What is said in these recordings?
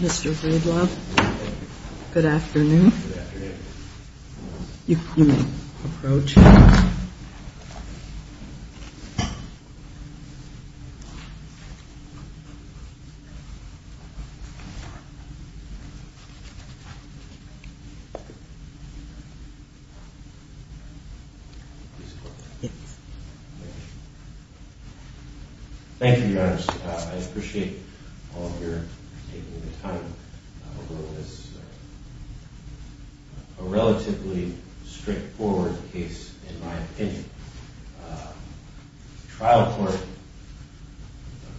Mr. Breedlove, good afternoon. Thank you, Your Honor. I appreciate all of your taking the time to join us this morning. This is a relatively straightforward case, in my opinion. The trial court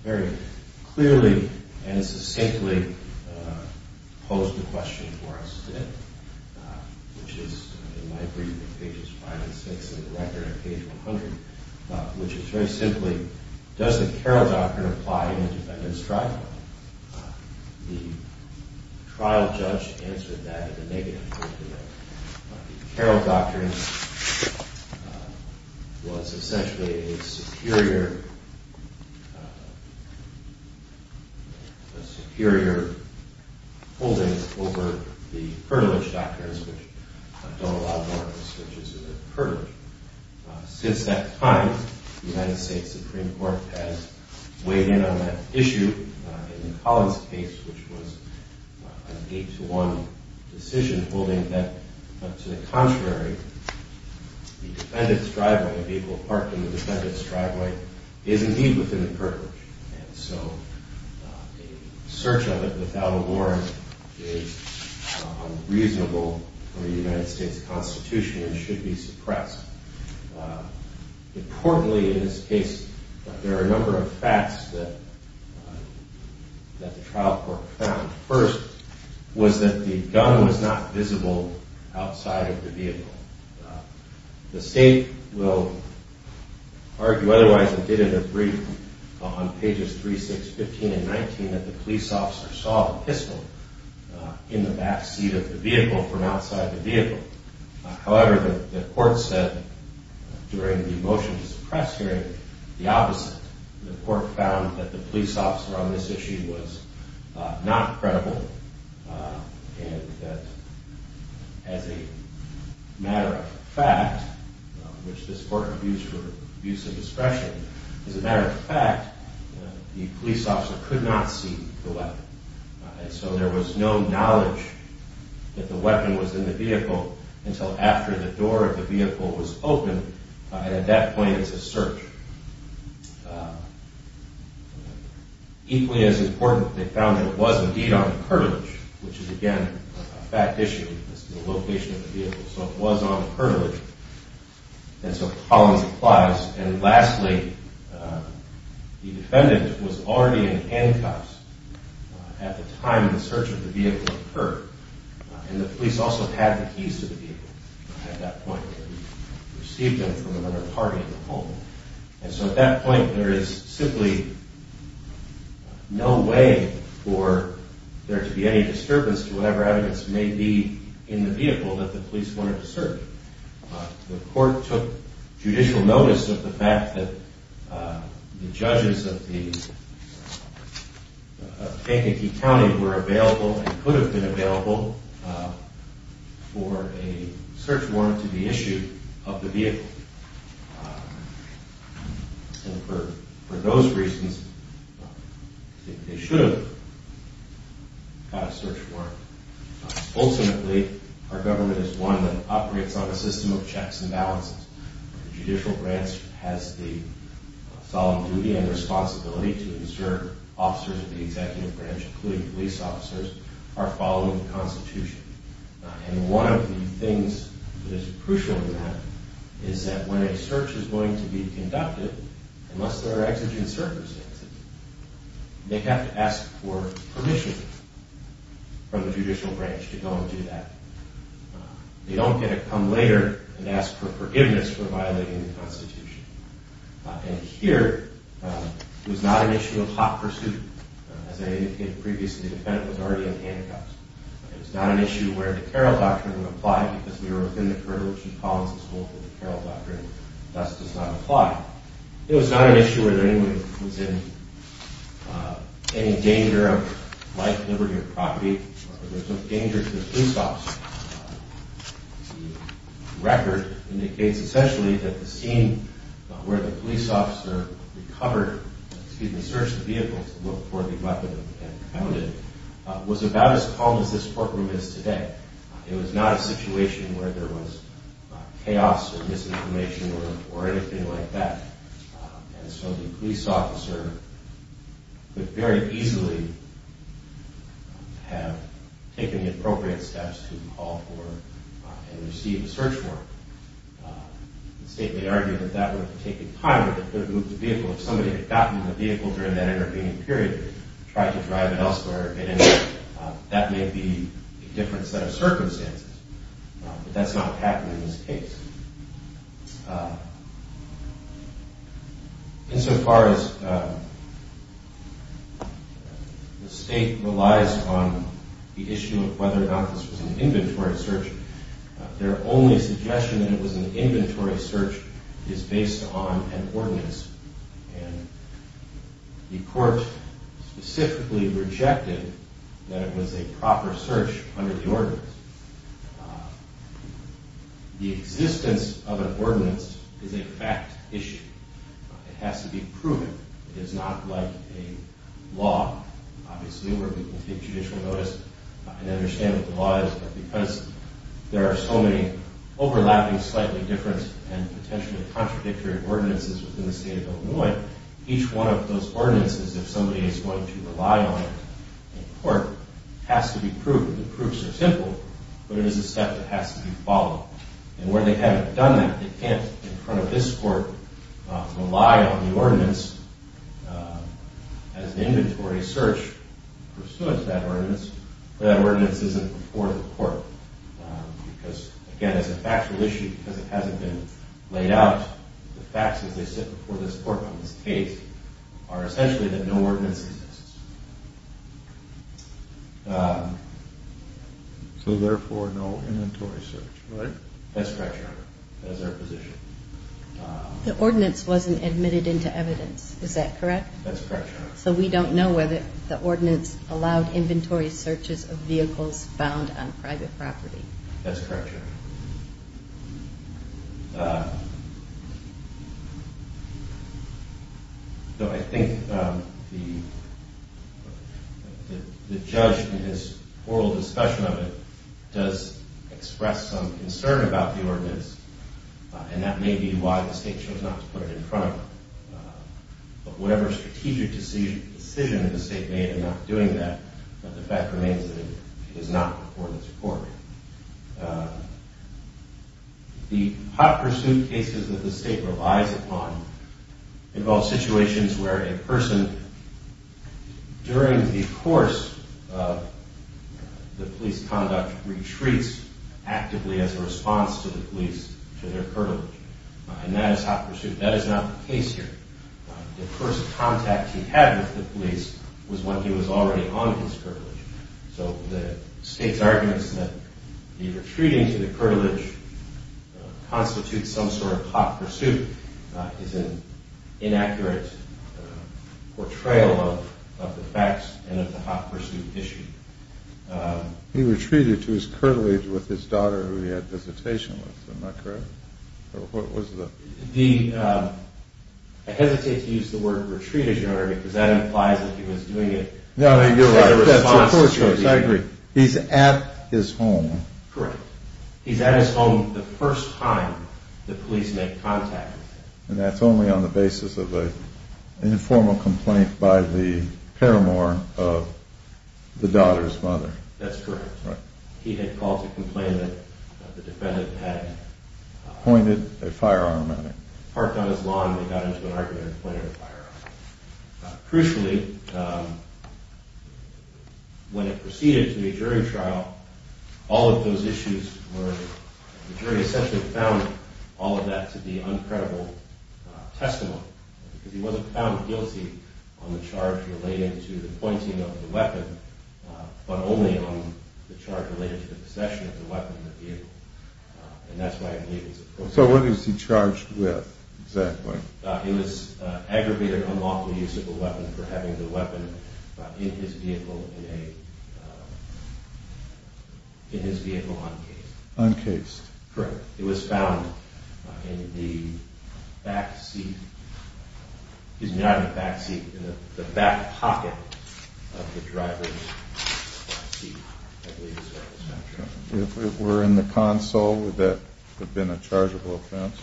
very clearly and succinctly posed the question for us today, which is in my brief on pages 5 and 6 of the record on page 100, which is very simply, does the Carroll Doctrine apply in an independent trial? The trial judge answered that as a negative. The Carroll Doctrine was essentially a superior holding over the Pertilage Doctrines, which don't allow more restrictions in the Pertilage. Since that time, the United States Supreme Court has weighed in on that issue. In Collins' case, which was an 8-to-1 decision holding that to the contrary, the defendant's driveway, a vehicle parked in the defendant's driveway, is indeed within the Pertilage. And so a search of it without a warrant is unreasonable for the United States Constitution and should be suppressed. Importantly in this case, there are a number of facts that the trial court found. First was that the gun was not visible outside of the vehicle. The state will argue otherwise and did in a brief on pages 3, 6, 15, and 19 that the police officer saw the pistol in the backseat of the vehicle from outside the vehicle. However, the court said during the motion to suppress hearing the opposite. The court found that the police officer on this issue was not credible and that as a matter of fact, which this court abused for abuse of discretion, as a matter of fact, the police officer could not see the weapon. And so there was no knowledge that the weapon was in the vehicle until after the door of the vehicle was opened. At that point, it's a search. Equally as important, they found that it was indeed on the Pertilage, which is again a fact issue as to the location of the vehicle. So it was on the Pertilage. And so Collins applies. And lastly, the defendant was already in handcuffs at the time the search of the vehicle occurred. And the police also had the keys to the vehicle at that point and received them from another party in the home. And so at that point, there is simply no way for there to be any disturbance to whatever evidence may be in the vehicle that the police wanted to search. The court took judicial notice of the fact that the judges of the Kankakee County were available and could have been available for a search warrant to be issued of the vehicle. And for those reasons, they should have got a search warrant. Ultimately, our government is one that operates on a system of checks and balances. The judicial branch has the solemn duty and responsibility to ensure officers of the executive branch, including police officers, are following the Constitution. And one of the things that is crucial in that is that when a search is going to be conducted, unless there are exigent circumstances, they have to ask for permission from the judicial branch to go and do that. They don't get to come later and ask for forgiveness for violating the Constitution. And here, it was not an issue of hot pursuit. As I indicated previously, the defendant was already in handcuffs. It was not an issue where the Carroll Doctrine would apply because we were within the Pertilage and Collins and Schultz and the Carroll Doctrine thus does not apply. It was not an issue where anyone was in any danger of life, liberty, or property. There was no danger to the police officer. The record indicates, essentially, that the scene where the police officer searched the vehicle to look for the weapon and found it was about as calm as this courtroom is today. It was not a situation where there was chaos or misinformation or anything like that. And so the police officer could very easily have taken the appropriate steps to call for and receive a search warrant. The state may argue that that would have taken time or that it could have moved the vehicle. If somebody had gotten the vehicle during that intervening period, tried to drive it elsewhere, that may be a different set of circumstances. But that's not what happened in this case. Insofar as the state relies on the issue of whether or not this was an inventory search, their only suggestion that it was an inventory search is based on an ordinance. And the court specifically rejected that it was a proper search under the ordinance. The existence of an ordinance is a fact issue. It has to be proven. It is not like a law, obviously, where people take judicial notice and understand what the law is. But because there are so many overlapping, slightly different, and potentially contradictory ordinances within the state of Illinois, each one of those ordinances, if somebody is going to rely on it in court, has to be proven. The proofs are simple, but it is a step that has to be followed. And where they haven't done that, they can't, in front of this court, rely on the ordinance as an inventory search pursuant to that ordinance. But that ordinance isn't before the court. Because, again, as a factual issue, because it hasn't been laid out, the facts as they sit before this court on this case are essentially that no ordinance exists. So, therefore, no inventory search. That's correct, Your Honor. That is our position. The ordinance wasn't admitted into evidence, is that correct? That's correct, Your Honor. So we don't know whether the ordinance allowed inventory searches of vehicles found on private property. That's correct, Your Honor. So I think the judge, in his oral discussion of it, does express some concern about the ordinance, and that may be why the state chose not to put it in front of it. But whatever strategic decision the state made in not doing that, the fact remains that it is not before this court. The hot pursuit cases that the state relies upon involve situations where a person, during the course of the police conduct, retreats actively as a response to the police, to their privilege. And that is hot pursuit. That is not the case here. The first contact he had with the police was when he was already on his privilege. So the state's arguments that the retreating to the privilege constitutes some sort of hot pursuit is an inaccurate portrayal of the facts and of the hot pursuit issue. He retreated to his privilege with his daughter who he had visitation with. Am I correct? Or what was the... I hesitate to use the word retreat, as Your Honor, because that implies that he was doing it... I agree. He's at his home. Correct. He's at his home the first time the police make contact with him. And that's only on the basis of an informal complaint by the paramour of the daughter's mother. That's correct. He had called to complain that the defendant had... Pointed a firearm at him. Parked on his lawn and got into an argument and pointed a firearm at him. Crucially, when it proceeded to a jury trial, all of those issues were... The jury essentially found all of that to be uncredible testimony. Because he wasn't found guilty on the charge relating to the pointing of the weapon, but only on the charge relating to the possession of the weapon in the vehicle. And that's why I believe it's... So what is he charged with, exactly? It was aggravated unlawful use of a weapon for having the weapon in his vehicle in a... In his vehicle uncased. Uncased. Correct. It was found in the back seat... He's not in the back seat, in the back pocket of the driver's seat. I believe that's where it was found. If it were in the console, would that have been a chargeable offense?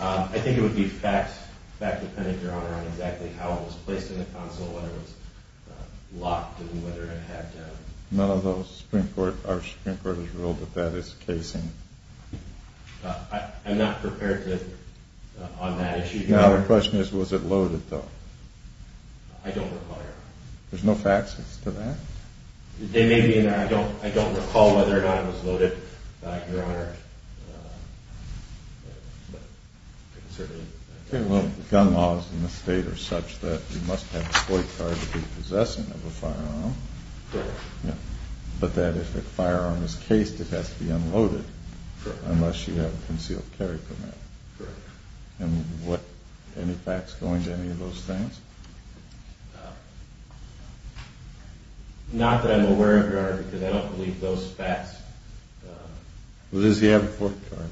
I think it would be fact-dependent, Your Honor, on exactly how it was placed in the console, whether it was locked and whether it had... None of those Supreme Court... Our Supreme Court has ruled that that is casing. I'm not prepared to... On that issue... The question is, was it loaded, though? I don't recall, Your Honor. There's no facts as to that? They may be in there. I don't recall whether or not it was loaded, Your Honor. Okay, well, gun laws in the state are such that you must have a ploy card to be possessing of a firearm. Correct. But that if a firearm is cased, it has to be unloaded. Correct. Unless you have a concealed carry permit. Correct. And what... Any facts going to any of those things? Not that I'm aware of, Your Honor, because I don't believe those facts... Well, does he have a ploy card?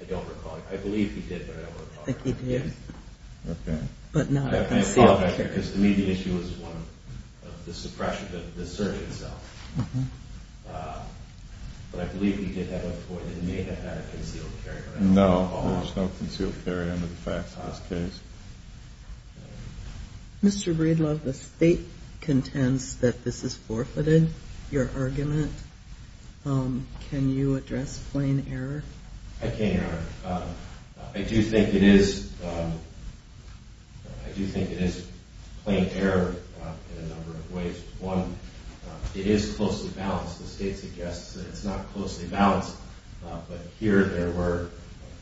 I don't recall. I believe he did, but I don't recall. I think he did. Okay. But not a concealed carry. I apologize, because to me the issue was one of the suppression of the search itself. But I believe he did have a ploy that he may have had a concealed carry permit. No, there's no concealed carry under the facts of this case. Mr. Breedlove, the state contends that this is forfeited, your argument. Can you address plain error? I can, Your Honor. I do think it is plain error in a number of ways. One, it is closely balanced. The state suggests that it's not closely balanced. But here there were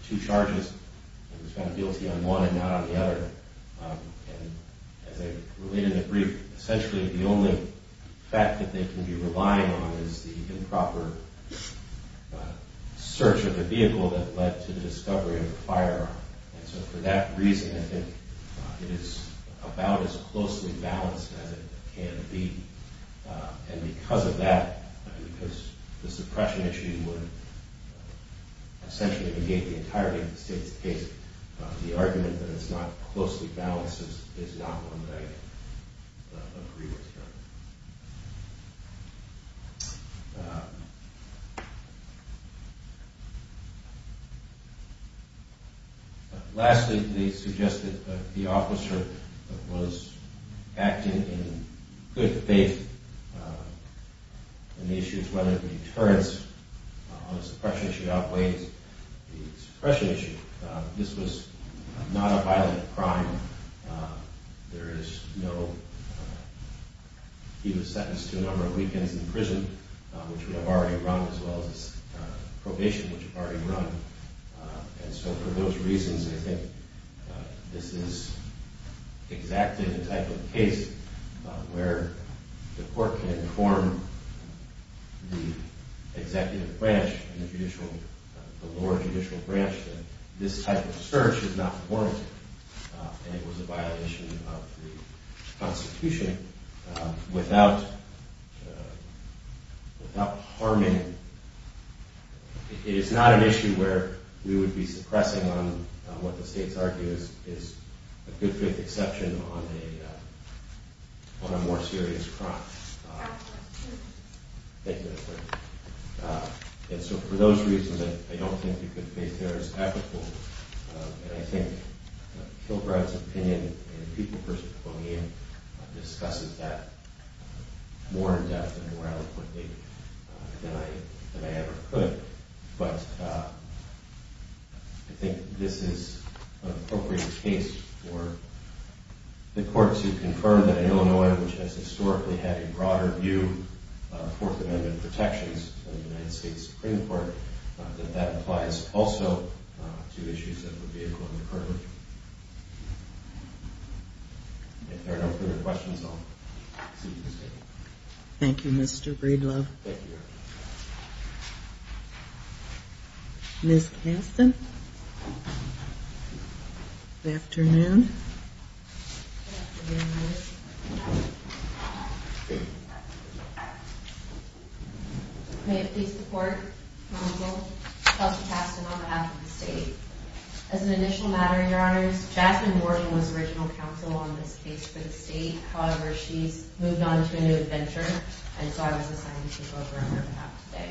two charges, and he was found guilty on one and not on the other. And as I related in the brief, essentially the only fact that they can be relying on is the improper search of the vehicle that led to the discovery of the firearm. And so for that reason, I think it is about as closely balanced as it can be. And because of that, because the suppression issue would essentially negate the entirety of the state's case, the argument that it's not closely balanced is not one that I agree with, Your Honor. Lastly, they suggest that the officer was acting in good faith in the issues, whether the deterrence on the suppression issue outweighs the suppression issue. This was not a violent crime. There is no – he was sentenced to a number of weekends in prison, which we have already run, as well as his probation, which we've already run. And so for those reasons, I think this is exactly the type of case where the court can inform the executive branch and the judicial – the lower judicial branch that this type of search is not warranted and it was a violation of the Constitution without harming – it is not an issue where we would be suppressing on what the states argue is a good faith exception on a more serious crime. Thank you, Your Honor. And so for those reasons, I don't think you could face the errors applicable. And I think Kilbride's opinion and the People v. Poponian discusses that more in depth and more eloquently than I ever could. But I think this is an appropriate case for the court to confirm that in Illinois, which has historically had a broader view of Fourth Amendment protections in the United States Supreme Court, that that applies also to issues that would be equally pertinent. If there are no further questions, I'll see you at this table. Thank you, Mr. Breedlove. Thank you, Your Honor. Ms. Caston? Good afternoon. Good afternoon, Ms. Caston. May it please the court, counsel, Kelsey Caston on behalf of the state. As an initial matter, Your Honors, Jasmine Wharton was original counsel on this case for the state. However, she's moved on to a new adventure, and so I was assigned to take over on her behalf today.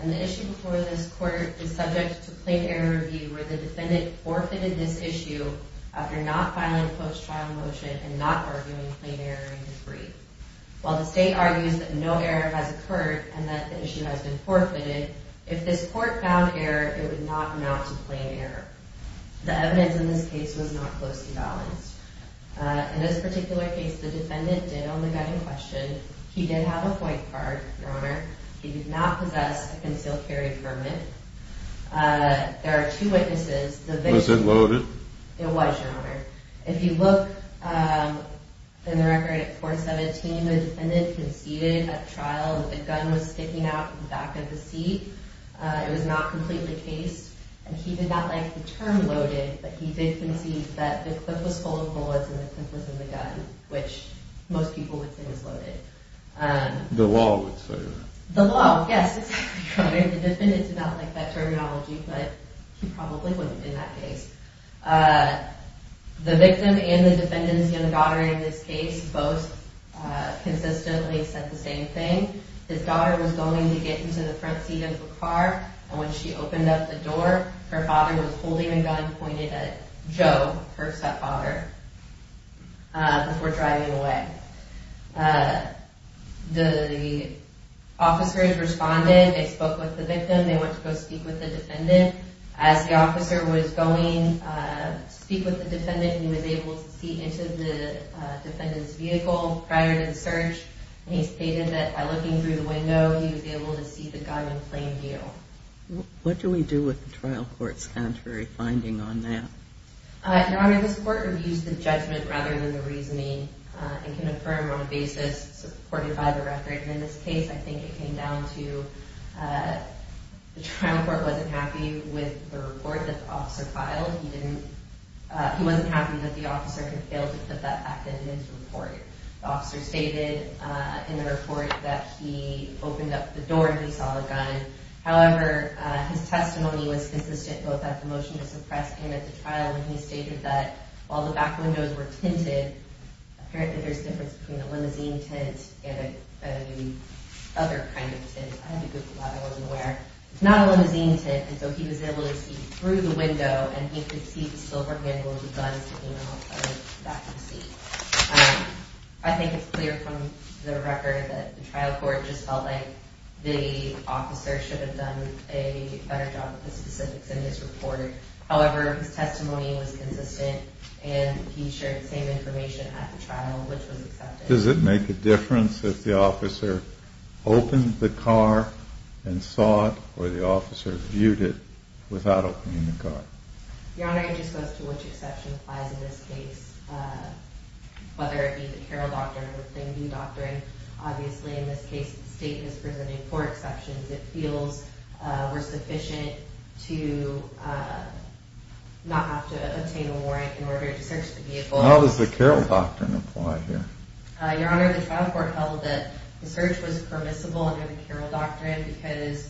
And the issue before this court is subject to plain error review, where the defendant forfeited this issue after not filing a post-trial motion and not arguing plain error in his brief. While the state argues that no error has occurred and that the issue has been forfeited, if this court found error, it would not amount to plain error. The evidence in this case was not closely balanced. In this particular case, the defendant did only get in question. He did have a white card, Your Honor. He did not possess a concealed carry permit. There are two witnesses. Was it loaded? It was, Your Honor. If you look in the record at 417, the defendant conceded at trial that the gun was sticking out of the back of the seat. It was not completely cased, and he did not like the term loaded, but he did concede that the clip was full of bullets and the clip was in the gun, which most people would think is loaded. The law would say that. The law, yes, exactly, Your Honor. The defendant did not like that terminology, but he probably wasn't in that case. The victim and the defendant's young daughter in this case both consistently said the same thing. His daughter was going to get into the front seat of the car, and when she opened up the door, her father was holding a gun pointed at Joe, her stepfather, before driving away. The officers responded. They spoke with the victim. They went to go speak with the defendant. As the officer was going to speak with the defendant, he was able to see into the defendant's vehicle prior to the search, and he stated that by looking through the window, he was able to see the gun in plain view. What do we do with the trial court's contrary finding on that? Your Honor, this court reviews the judgment rather than the reasoning and can affirm on a basis supported by the record. In this case, I think it came down to the trial court wasn't happy with the report that the officer filed. He wasn't happy that the officer had failed to put that fact into the report. The officer stated in the report that he opened up the door and he saw a gun. However, his testimony was consistent both at the motion to suppress and at the trial, and he stated that all the back windows were tinted. Apparently, there's a difference between a limousine tint and a other kind of tint. I had to Google that. I wasn't aware. It's not a limousine tint, and so he was able to see through the window, and he could see the silver handle of the gun sticking out of the back of the seat. I think it's clear from the record that the trial court just felt like the officer should have done a better job with the specifics in this report. However, his testimony was consistent, and he shared the same information at the trial, which was accepted. Does it make a difference if the officer opened the car and saw it or the officer viewed it without opening the car? Your Honor, it just goes to which exception applies in this case, whether it be the Carroll Doctrine or the Plainview Doctrine. Obviously, in this case, the state is presenting four exceptions. It feels we're sufficient to not have to obtain a warrant in order to search the vehicle. How does the Carroll Doctrine apply here? Your Honor, the trial court held that the search was permissible under the Carroll Doctrine because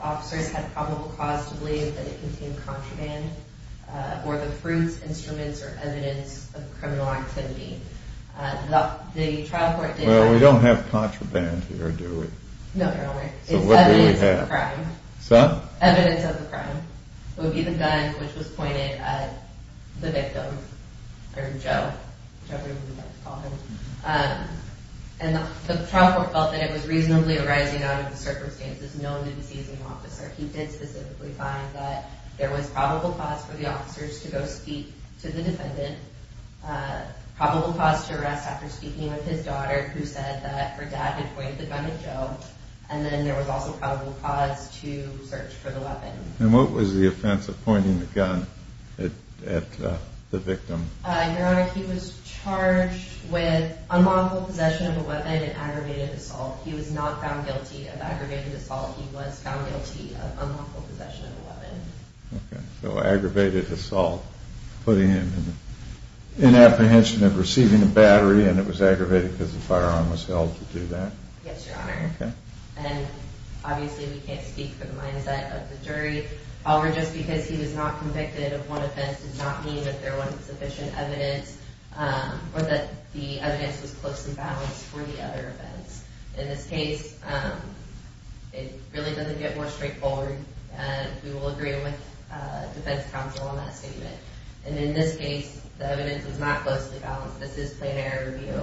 officers had probable cause to believe that it contained contraband or the fruits, instruments, or evidence of criminal activity. The trial court did not… Well, we don't have contraband here, do we? No, Your Honor. So what do we have? It's evidence of a crime. So? Evidence of a crime. It would be the gun, which was pointed at the victim, or Joe, whichever you would like to call him. And the trial court felt that it was reasonably arising out of the circumstances known to the seizing officer. He did specifically find that there was probable cause for the officers to go speak to the defendant, probable cause to arrest after speaking with his daughter, who said that her dad had pointed the gun at Joe, and then there was also probable cause to search for the weapon. And what was the offense of pointing the gun at the victim? Your Honor, he was charged with unlawful possession of a weapon and aggravated assault. He was not found guilty of aggravated assault. He was found guilty of unlawful possession of a weapon. Okay. So aggravated assault, putting him in apprehension of receiving a battery, and it was aggravated because the firearm was held to do that? Yes, Your Honor. Okay. And obviously we can't speak for the mindset of the jury. However, just because he was not convicted of one offense does not mean that there wasn't sufficient evidence or that the evidence was closely balanced for the other offense. In this case, it really doesn't get more straightforward, and we will agree with the defense counsel on that statement. And in this case, the evidence was not closely balanced. This is plain error review.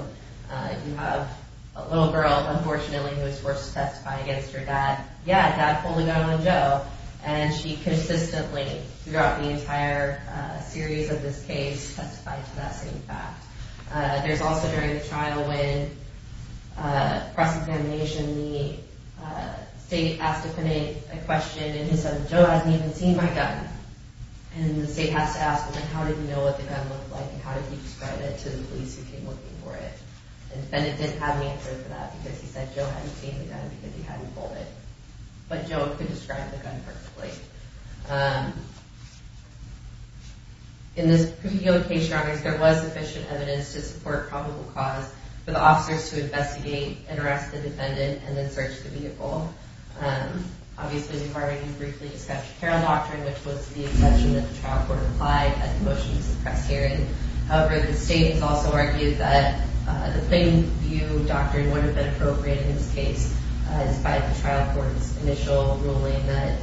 You have a little girl, unfortunately, who was forced to testify against her dad. Yeah, dad pulled a gun on Joe, and she consistently throughout the entire series of this case testified to that same fact. There's also during the trial when cross-examination, the state asked the defendant a question, and he said, Joe hasn't even seen my gun. And the state has to ask him, how did he know what the gun looked like, and how did he describe it to the police who came looking for it? And the defendant didn't have an answer for that because he said Joe hadn't seen the gun because he hadn't pulled it. But Joe could describe the gun perfectly. In this particular case, there was sufficient evidence to support probable cause for the officers to investigate and arrest the defendant and then search the vehicle. Obviously, the department briefly discussed the parole doctrine, which was the exception that the trial court applied at the motion to suppress hearing. However, the state has also argued that the plain view doctrine would have been appropriate in this case, despite the trial court's initial ruling that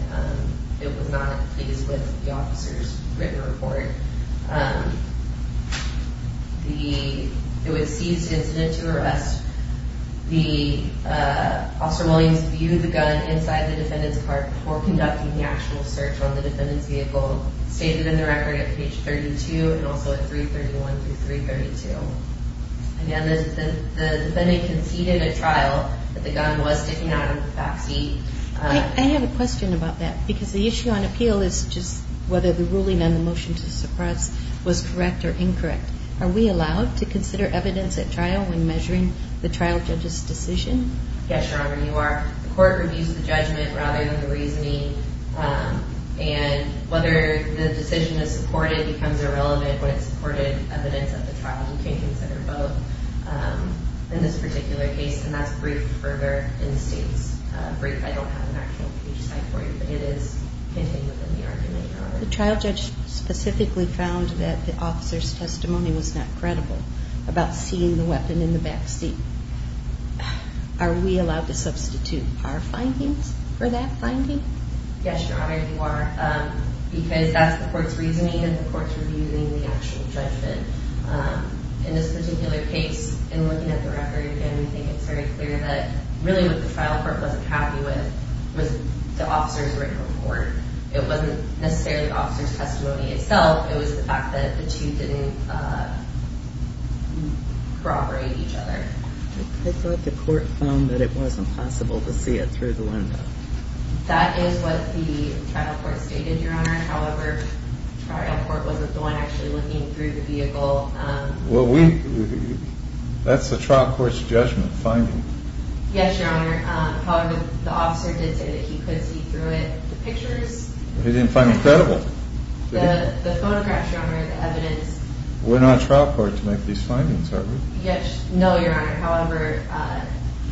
it was not pleased with the officer's written report. It was seized incident to arrest. Officer Williams viewed the gun inside the defendant's car before conducting the actual search on the defendant's vehicle. It's stated in the record at page 32 and also at 331 through 332. Again, the defendant conceded at trial that the gun was sticking out of the backseat. I have a question about that because the issue on appeal is just whether the ruling on the motion to suppress was correct or incorrect. Are we allowed to consider evidence at trial when measuring the trial judge's decision? Yes, Your Honor, you are. The court reviews the judgment rather than the reasoning, and whether the decision is supported becomes irrelevant when it's supported evidence at the trial. You can consider both in this particular case, and that's briefed further in the state's brief. I don't have an actual page cite for you, but it is contained within the argument, Your Honor. The trial judge specifically found that the officer's testimony was not credible about seeing the weapon in the backseat. Are we allowed to substitute our findings for that finding? Yes, Your Honor, you are, because that's the court's reasoning and the court's reviewing the actual judgment. In this particular case, in looking at the record, we think it's very clear that really what the trial court wasn't happy with was the officer's written report. It wasn't necessarily the officer's testimony itself. It was the fact that the two didn't corroborate each other. I thought the court found that it wasn't possible to see it through the window. That is what the trial court stated, Your Honor. However, the trial court wasn't the one actually looking through the vehicle. Well, that's the trial court's judgment finding. Yes, Your Honor. However, the officer did say that he could see through it the pictures. He didn't find it credible. The photographs, Your Honor, the evidence. We're not a trial court to make these findings, are we? No, Your Honor. However,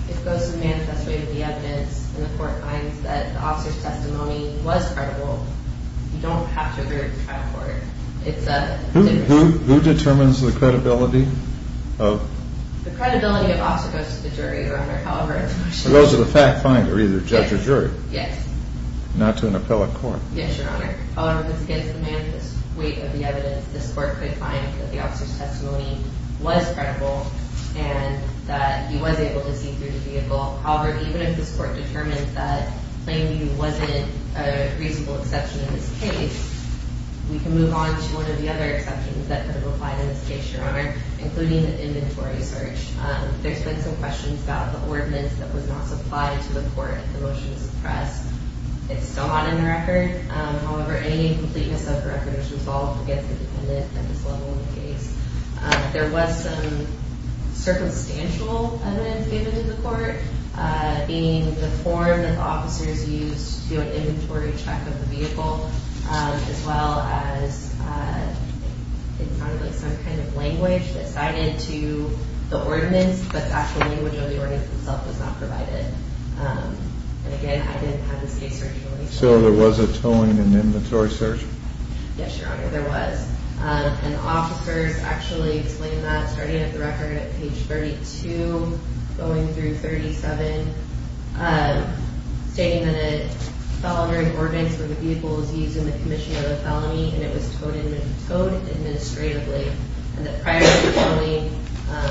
it goes to the manifest weight of the evidence, and the court finds that the officer's testimony was credible. You don't have to agree with the trial court. Who determines the credibility? The credibility of the officer goes to the jury, Your Honor. Those are the fact finder, either judge or jury. Yes. Not to an appellate court. Yes, Your Honor. However, this goes to the manifest weight of the evidence. This court could find that the officer's testimony was credible and that he was able to see through the vehicle. However, even if this court determines that Plainview wasn't a reasonable exception in this case, we can move on to one of the other exceptions that could apply in this case, Your Honor, including the inventory search. There's been some questions about the ordinance that was not supplied to the court in the motion to suppress. It's still not in the record. However, any completeness of the record is resolved against the defendant at this level in the case. There was some circumstantial evidence given to the court, meaning the form that the officers used to do an inventory check of the vehicle, as well as some kind of language that's cited to the ordinance, but the actual language of the ordinance itself was not provided. And, again, I didn't have this case originally. So there was a towing and inventory search? Yes, Your Honor, there was. And the officers actually explained that, starting at the record at page 32, going through 37, stating that a felony ordinance for the vehicle was used in the commission of the felony and it was towed administratively, and that prior to the towing,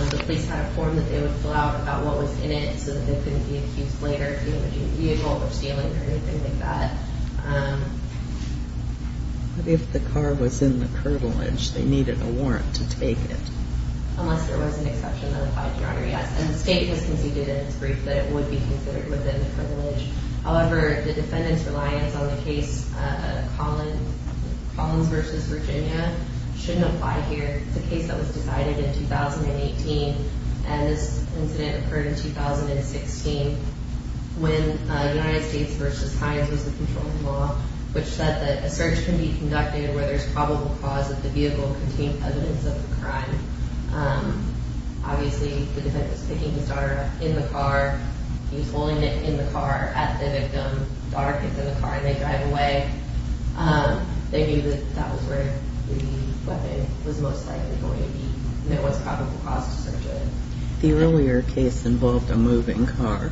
the police had a form that they would fill out about what was in it so that they couldn't be accused later of damaging the vehicle or stealing or anything like that. But if the car was in the privilege, they needed a warrant to take it? Unless there was an exception that applied to it, Your Honor, yes. And the state has conceded in its brief that it would be considered within the privilege. However, the defendant's reliance on the case Collins v. Virginia shouldn't apply here. It's a case that was decided in 2018, and this incident occurred in 2016 when United States v. Hines was the controlling law, which said that a search can be conducted where there's probable cause that the vehicle contained evidence of the crime. Obviously, the defendant was picking his daughter up in the car. He was holding it in the car at the victim. The daughter gets in the car and they drive away. They knew that that was where the weapon was most likely going to be. There was probable cause to search it. The earlier case involved a moving car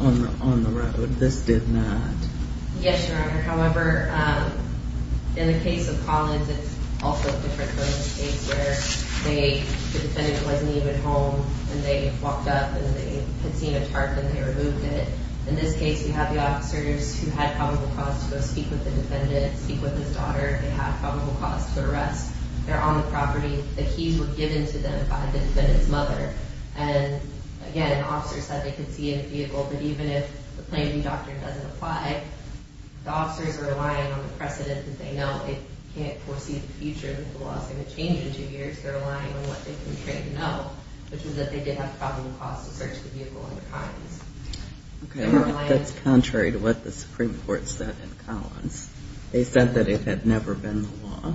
on the road. This did not. Yes, Your Honor. However, in the case of Collins, it's also a different case where the defendant wasn't even home and they walked up and they had seen a tarp and they removed it. In this case, we have the officers who had probable cause to go speak with the defendant, speak with his daughter. They have probable cause to arrest. They're on the property. The keys were given to them by the defendant's mother. And again, an officer said they could see in the vehicle that even if the plaintiff doctrine doesn't apply, the officers are relying on the precedent that they know. They can't foresee the future that the law is going to change in two years. They're relying on what they can train to know, which is that they did have probable cause to search the vehicle in the crimes. Okay. That's contrary to what the Supreme Court said in Collins. They said that it had never been the law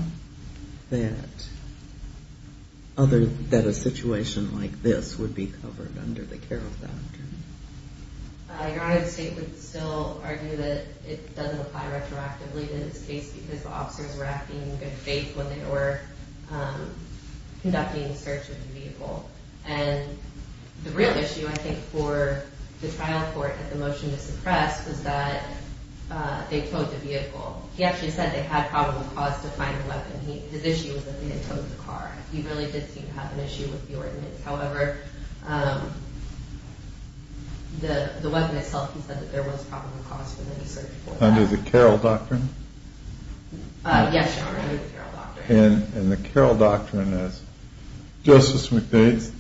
that a situation like this would be covered under the Carroll Doctrine. Your Honor, the state would still argue that it doesn't apply retroactively to this case because the officers were acting in good faith when they were conducting the search of the vehicle. And the real issue, I think, for the trial court at the motion to suppress was that they towed the vehicle. He actually said they had probable cause to find the weapon. His issue was that they had towed the car. He really did seem to have an issue with the ordinance. However, the weapon itself, he said that there was probable cause for them to search for it. Under the Carroll Doctrine? Yes, Your Honor, under the Carroll Doctrine. And the Carroll Doctrine, as Justice McDade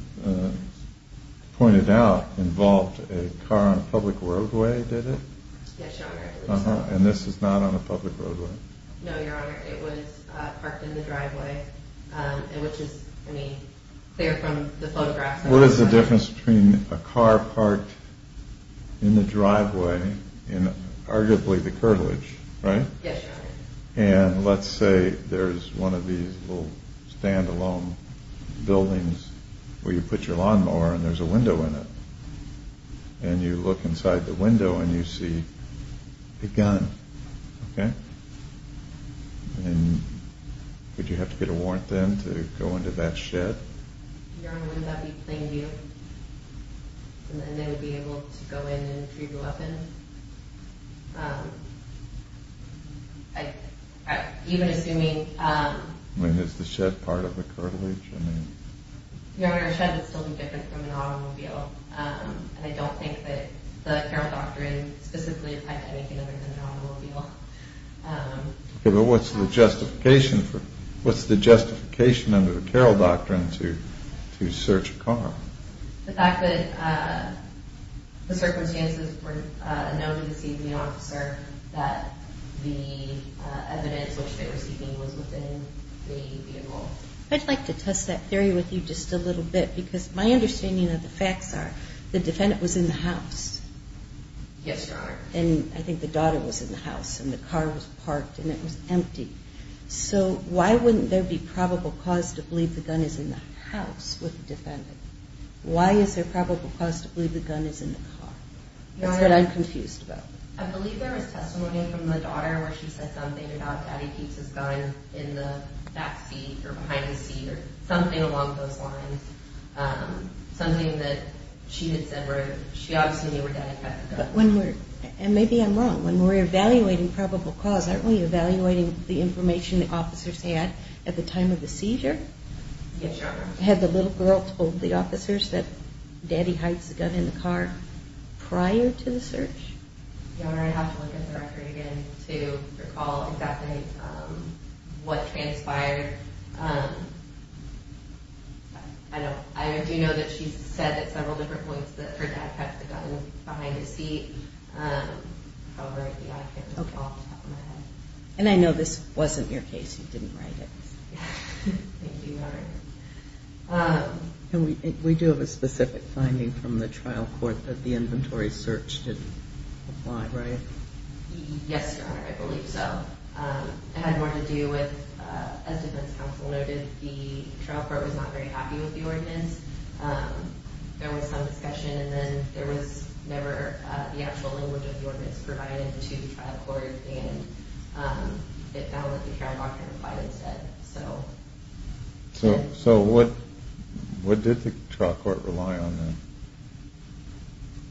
pointed out, involved a car on a public roadway, did it? Yes, Your Honor. And this is not on a public roadway? No, Your Honor, it was parked in the driveway, which is clear from the photographs. What is the difference between a car parked in the driveway and arguably the curtilage, right? Yes, Your Honor. And let's say there's one of these little stand-alone buildings where you put your lawnmower and there's a window in it. And you look inside the window and you see a gun, okay? And would you have to get a warrant then to go into that shed? Your Honor, wouldn't that be plain view? And then they would be able to go in and free the weapon? Even assuming... I mean, is the shed part of the curtilage? Your Honor, a shed would still be different from an automobile. And I don't think that the Carroll Doctrine specifically applied to anything other than an automobile. Okay, but what's the justification under the Carroll Doctrine to search a car? The fact that the circumstances were known to the CPO officer that the evidence which they were seeking was within the vehicle. I'd like to test that theory with you just a little bit because my understanding of the facts are the defendant was in the house. Yes, Your Honor. And I think the daughter was in the house and the car was parked and it was empty. So why wouldn't there be probable cause to believe the gun is in the house with the defendant? Why is there probable cause to believe the gun is in the car? That's what I'm confused about. I believe there was testimony from the daughter where she said something about daddy keeps his gun in the backseat or behind the seat or something along those lines. Something that she had said where she obviously knew where daddy kept the gun. And maybe I'm wrong. When we're evaluating probable cause, aren't we evaluating the information the officers had at the time of the seizure? Yes, Your Honor. Had the little girl told the officers that daddy hides the gun in the car prior to the search? Your Honor, I'd have to look at the record again to recall exactly what transpired. I do know that she said at several different points that her dad kept the gun behind his seat. However, I can't recall off the top of my head. And I know this wasn't your case. You didn't write it. Thank you, Your Honor. And we do have a specific finding from the trial court that the inventory search didn't apply, right? Yes, Your Honor. I believe so. It had more to do with, as defense counsel noted, the trial court was not very happy with the ordinance. There was some discussion. And then there was never the actual language of the ordinance provided to the trial court. And it found that the hearing doctrine applied instead. So what did the trial court rely on then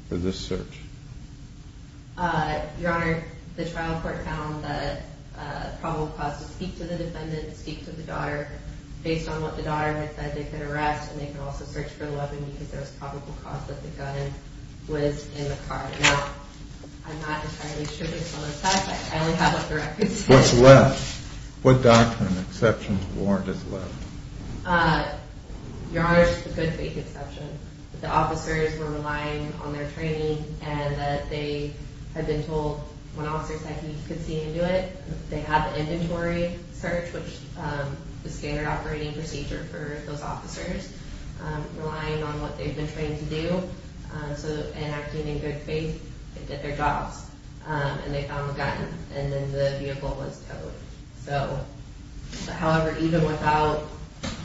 for this search? Your Honor, the trial court found that a problem caused to speak to the defendant, speak to the daughter. Based on what the daughter had said, they could arrest and they could also search for the weapon because there was probable cause that the gun was in the car. Now, I'm not entirely sure this is on the test. I only have what the record says. What's left? What doctrine, exceptions, warrant is left? Your Honor, it's a good faith exception. The officers were relying on their training and that they had been told when officers said he could see and do it, they had the inventory search, which is standard operating procedure for those officers, relying on what they've been trained to do. So in acting in good faith, they did their jobs, and they found the gun, and then the vehicle was towed. However, even without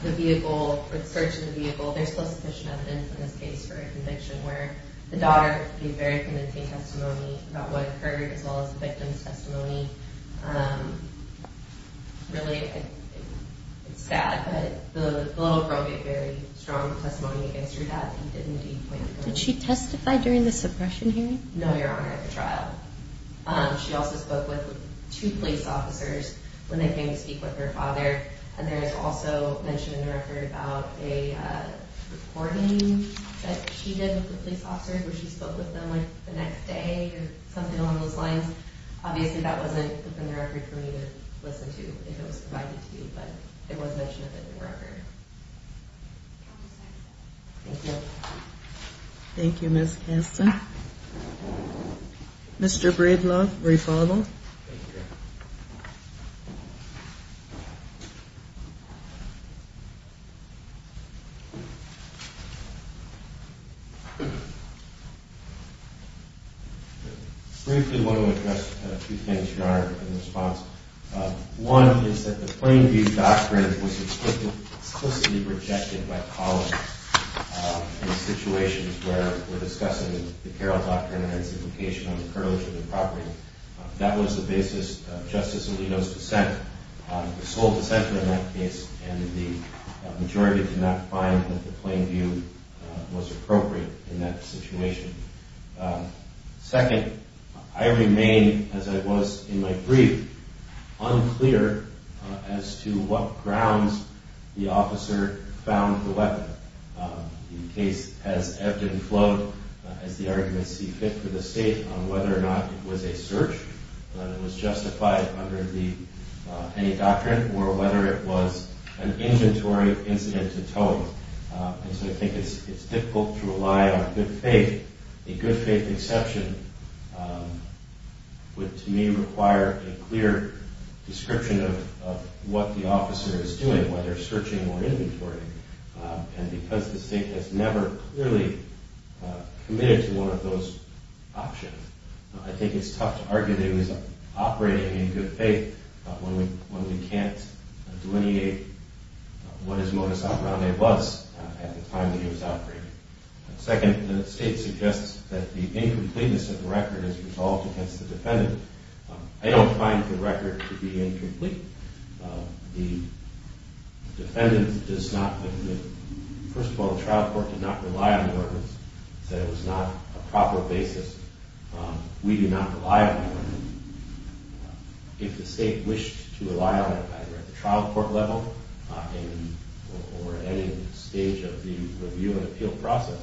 the vehicle or the search of the vehicle, there's still sufficient evidence in this case for a conviction where the daughter gave very convincing testimony about what occurred as well as the victim's testimony. Really, it's sad, but the little girl gave very strong testimony against her dad. He did indeed point the gun. Did she testify during the suppression hearing? No, Your Honor, at the trial. She also spoke with two police officers when they came to speak with her father, and there is also mention in the record about a recording that she did with the police officers where she spoke with them, like, the next day or something along those lines. Obviously, that wasn't put in the record for me to listen to if it was provided to me, but it was mentioned in the record. Thank you. Thank you, Ms. Kasten. Mr. Bravelove, will you follow along? Briefly, I want to address two things, Your Honor, in response. One is that the Plainview Doctrine was explicitly rejected by colleagues in situations where we're discussing the Carroll Doctrine and its implication on the privilege of the property. That was the basis of Justice Alito's dissent, the sole dissenter in that case, and the majority did not find that the Plainview was appropriate in that situation. Second, I remain, as I was in my brief, unclear as to what grounds the officer found the weapon. The case has ebbed and flowed, as the arguments see fit for the State, on whether or not it was a search, whether it was justified under any doctrine, or whether it was an inventory incident to Tome. And so I think it's difficult to rely on good faith. A good faith exception would, to me, require a clear description of what the officer is doing, whether searching or inventory. And because the State has never clearly committed to one of those options, I think it's tough to argue that he was operating in good faith when we can't delineate what his modus operandi was at the time that he was operating. Second, the State suggests that the incompleteness of the record is resolved against the defendant. I don't find the record to be incomplete. The defendant does not, first of all, the trial court did not rely on the evidence. It said it was not a proper basis. We do not rely on evidence. If the State wished to rely on it, either at the trial court level or at any stage of the review and appeal process,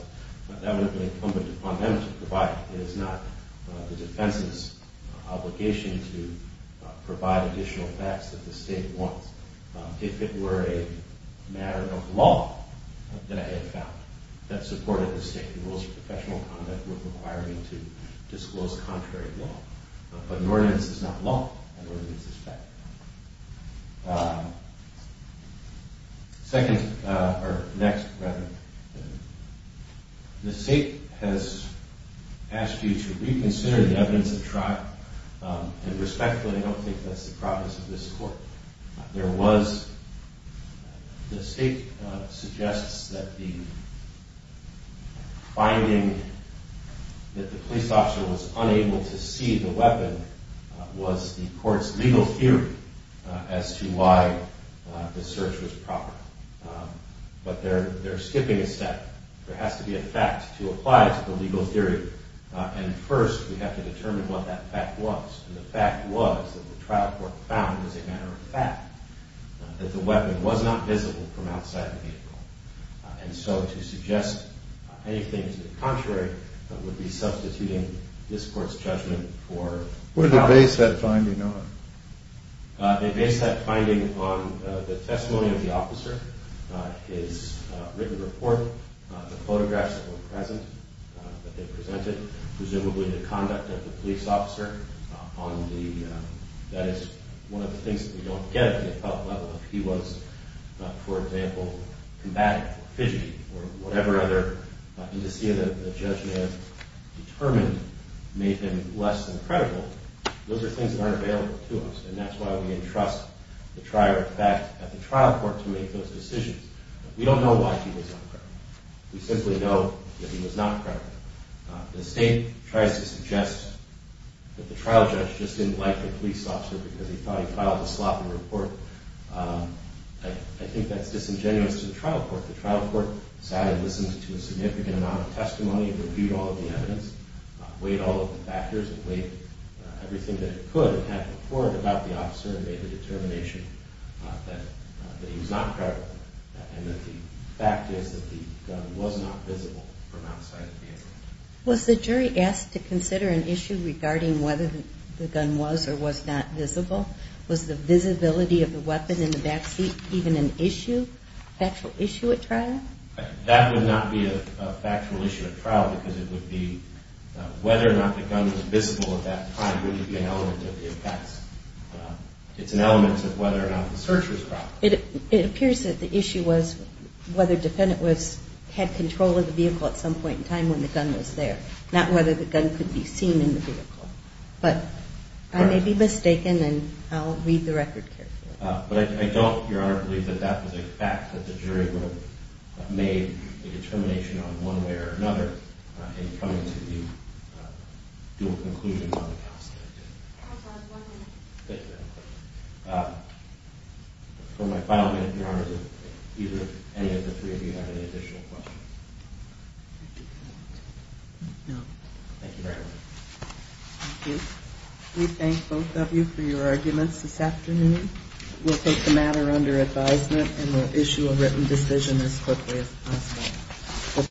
that would be incumbent upon them to provide it. It is not the defense's obligation to provide additional facts that the State wants. If it were a matter of law that I had found that supported the State, the rules of professional conduct would require me to disclose contrary law. But an ordinance is not law. An ordinance is fact. Second, or next, rather, the State has asked you to reconsider the evidence of trial. And respectfully, I don't think that's the purpose of this court. There was, the State suggests that the finding that the police officer was unable to see the weapon was the court's legal theory as to why the search was proper. But they're skipping a step. There has to be a fact to apply it to the legal theory. And first, we have to determine what that fact was. And the fact was that the trial court found as a matter of fact that the weapon was not visible from outside the vehicle. And so to suggest anything to the contrary would be substituting this court's judgment for... What did they base that finding on? They based that finding on the testimony of the officer, his written report, the photographs that were present that they presented, presumably the conduct of the police officer on the, that is one of the things that we don't get at the appellate level, if he was, for example, combative or fidgety or whatever other indice that the judge may have determined made him less than credible, those are things that aren't available to us. And that's why we entrust the prior fact at the trial court to make those decisions. We don't know why he was not credible. We simply know that he was not credible. The State tries to suggest that the trial judge just didn't like the police officer because he thought he filed a sloppy report. I think that's disingenuous to the trial court. The trial court decided to listen to a significant amount of testimony, reviewed all of the evidence, weighed all of the factors, and weighed everything that it could and had to report about the officer and made the determination that he was not credible and that the fact is that the gun was not visible from outside the vehicle. Was the jury asked to consider an issue regarding whether the gun was or was not visible? Was the visibility of the weapon in the backseat even an issue, a factual issue at trial? That would not be a factual issue at trial because it would be whether or not the gun was visible at that time would be an element of the searcher's problem. It appears that the issue was whether the defendant had control of the vehicle at some point in time when the gun was there, not whether the gun could be seen in the vehicle. But I may be mistaken, and I'll read the record carefully. But I don't, Your Honor, believe that that was a fact, that the jury would have made a determination on one way or another in coming to the dual conclusions on the case that it did. I apologize, one minute. Thank you, Your Honor. For my final minute, Your Honor, if any of the three of you have any additional questions. No. Thank you very much. Thank you. We thank both of you for your arguments this afternoon. We'll take the matter under advisement and we'll issue a written decision as quickly as possible.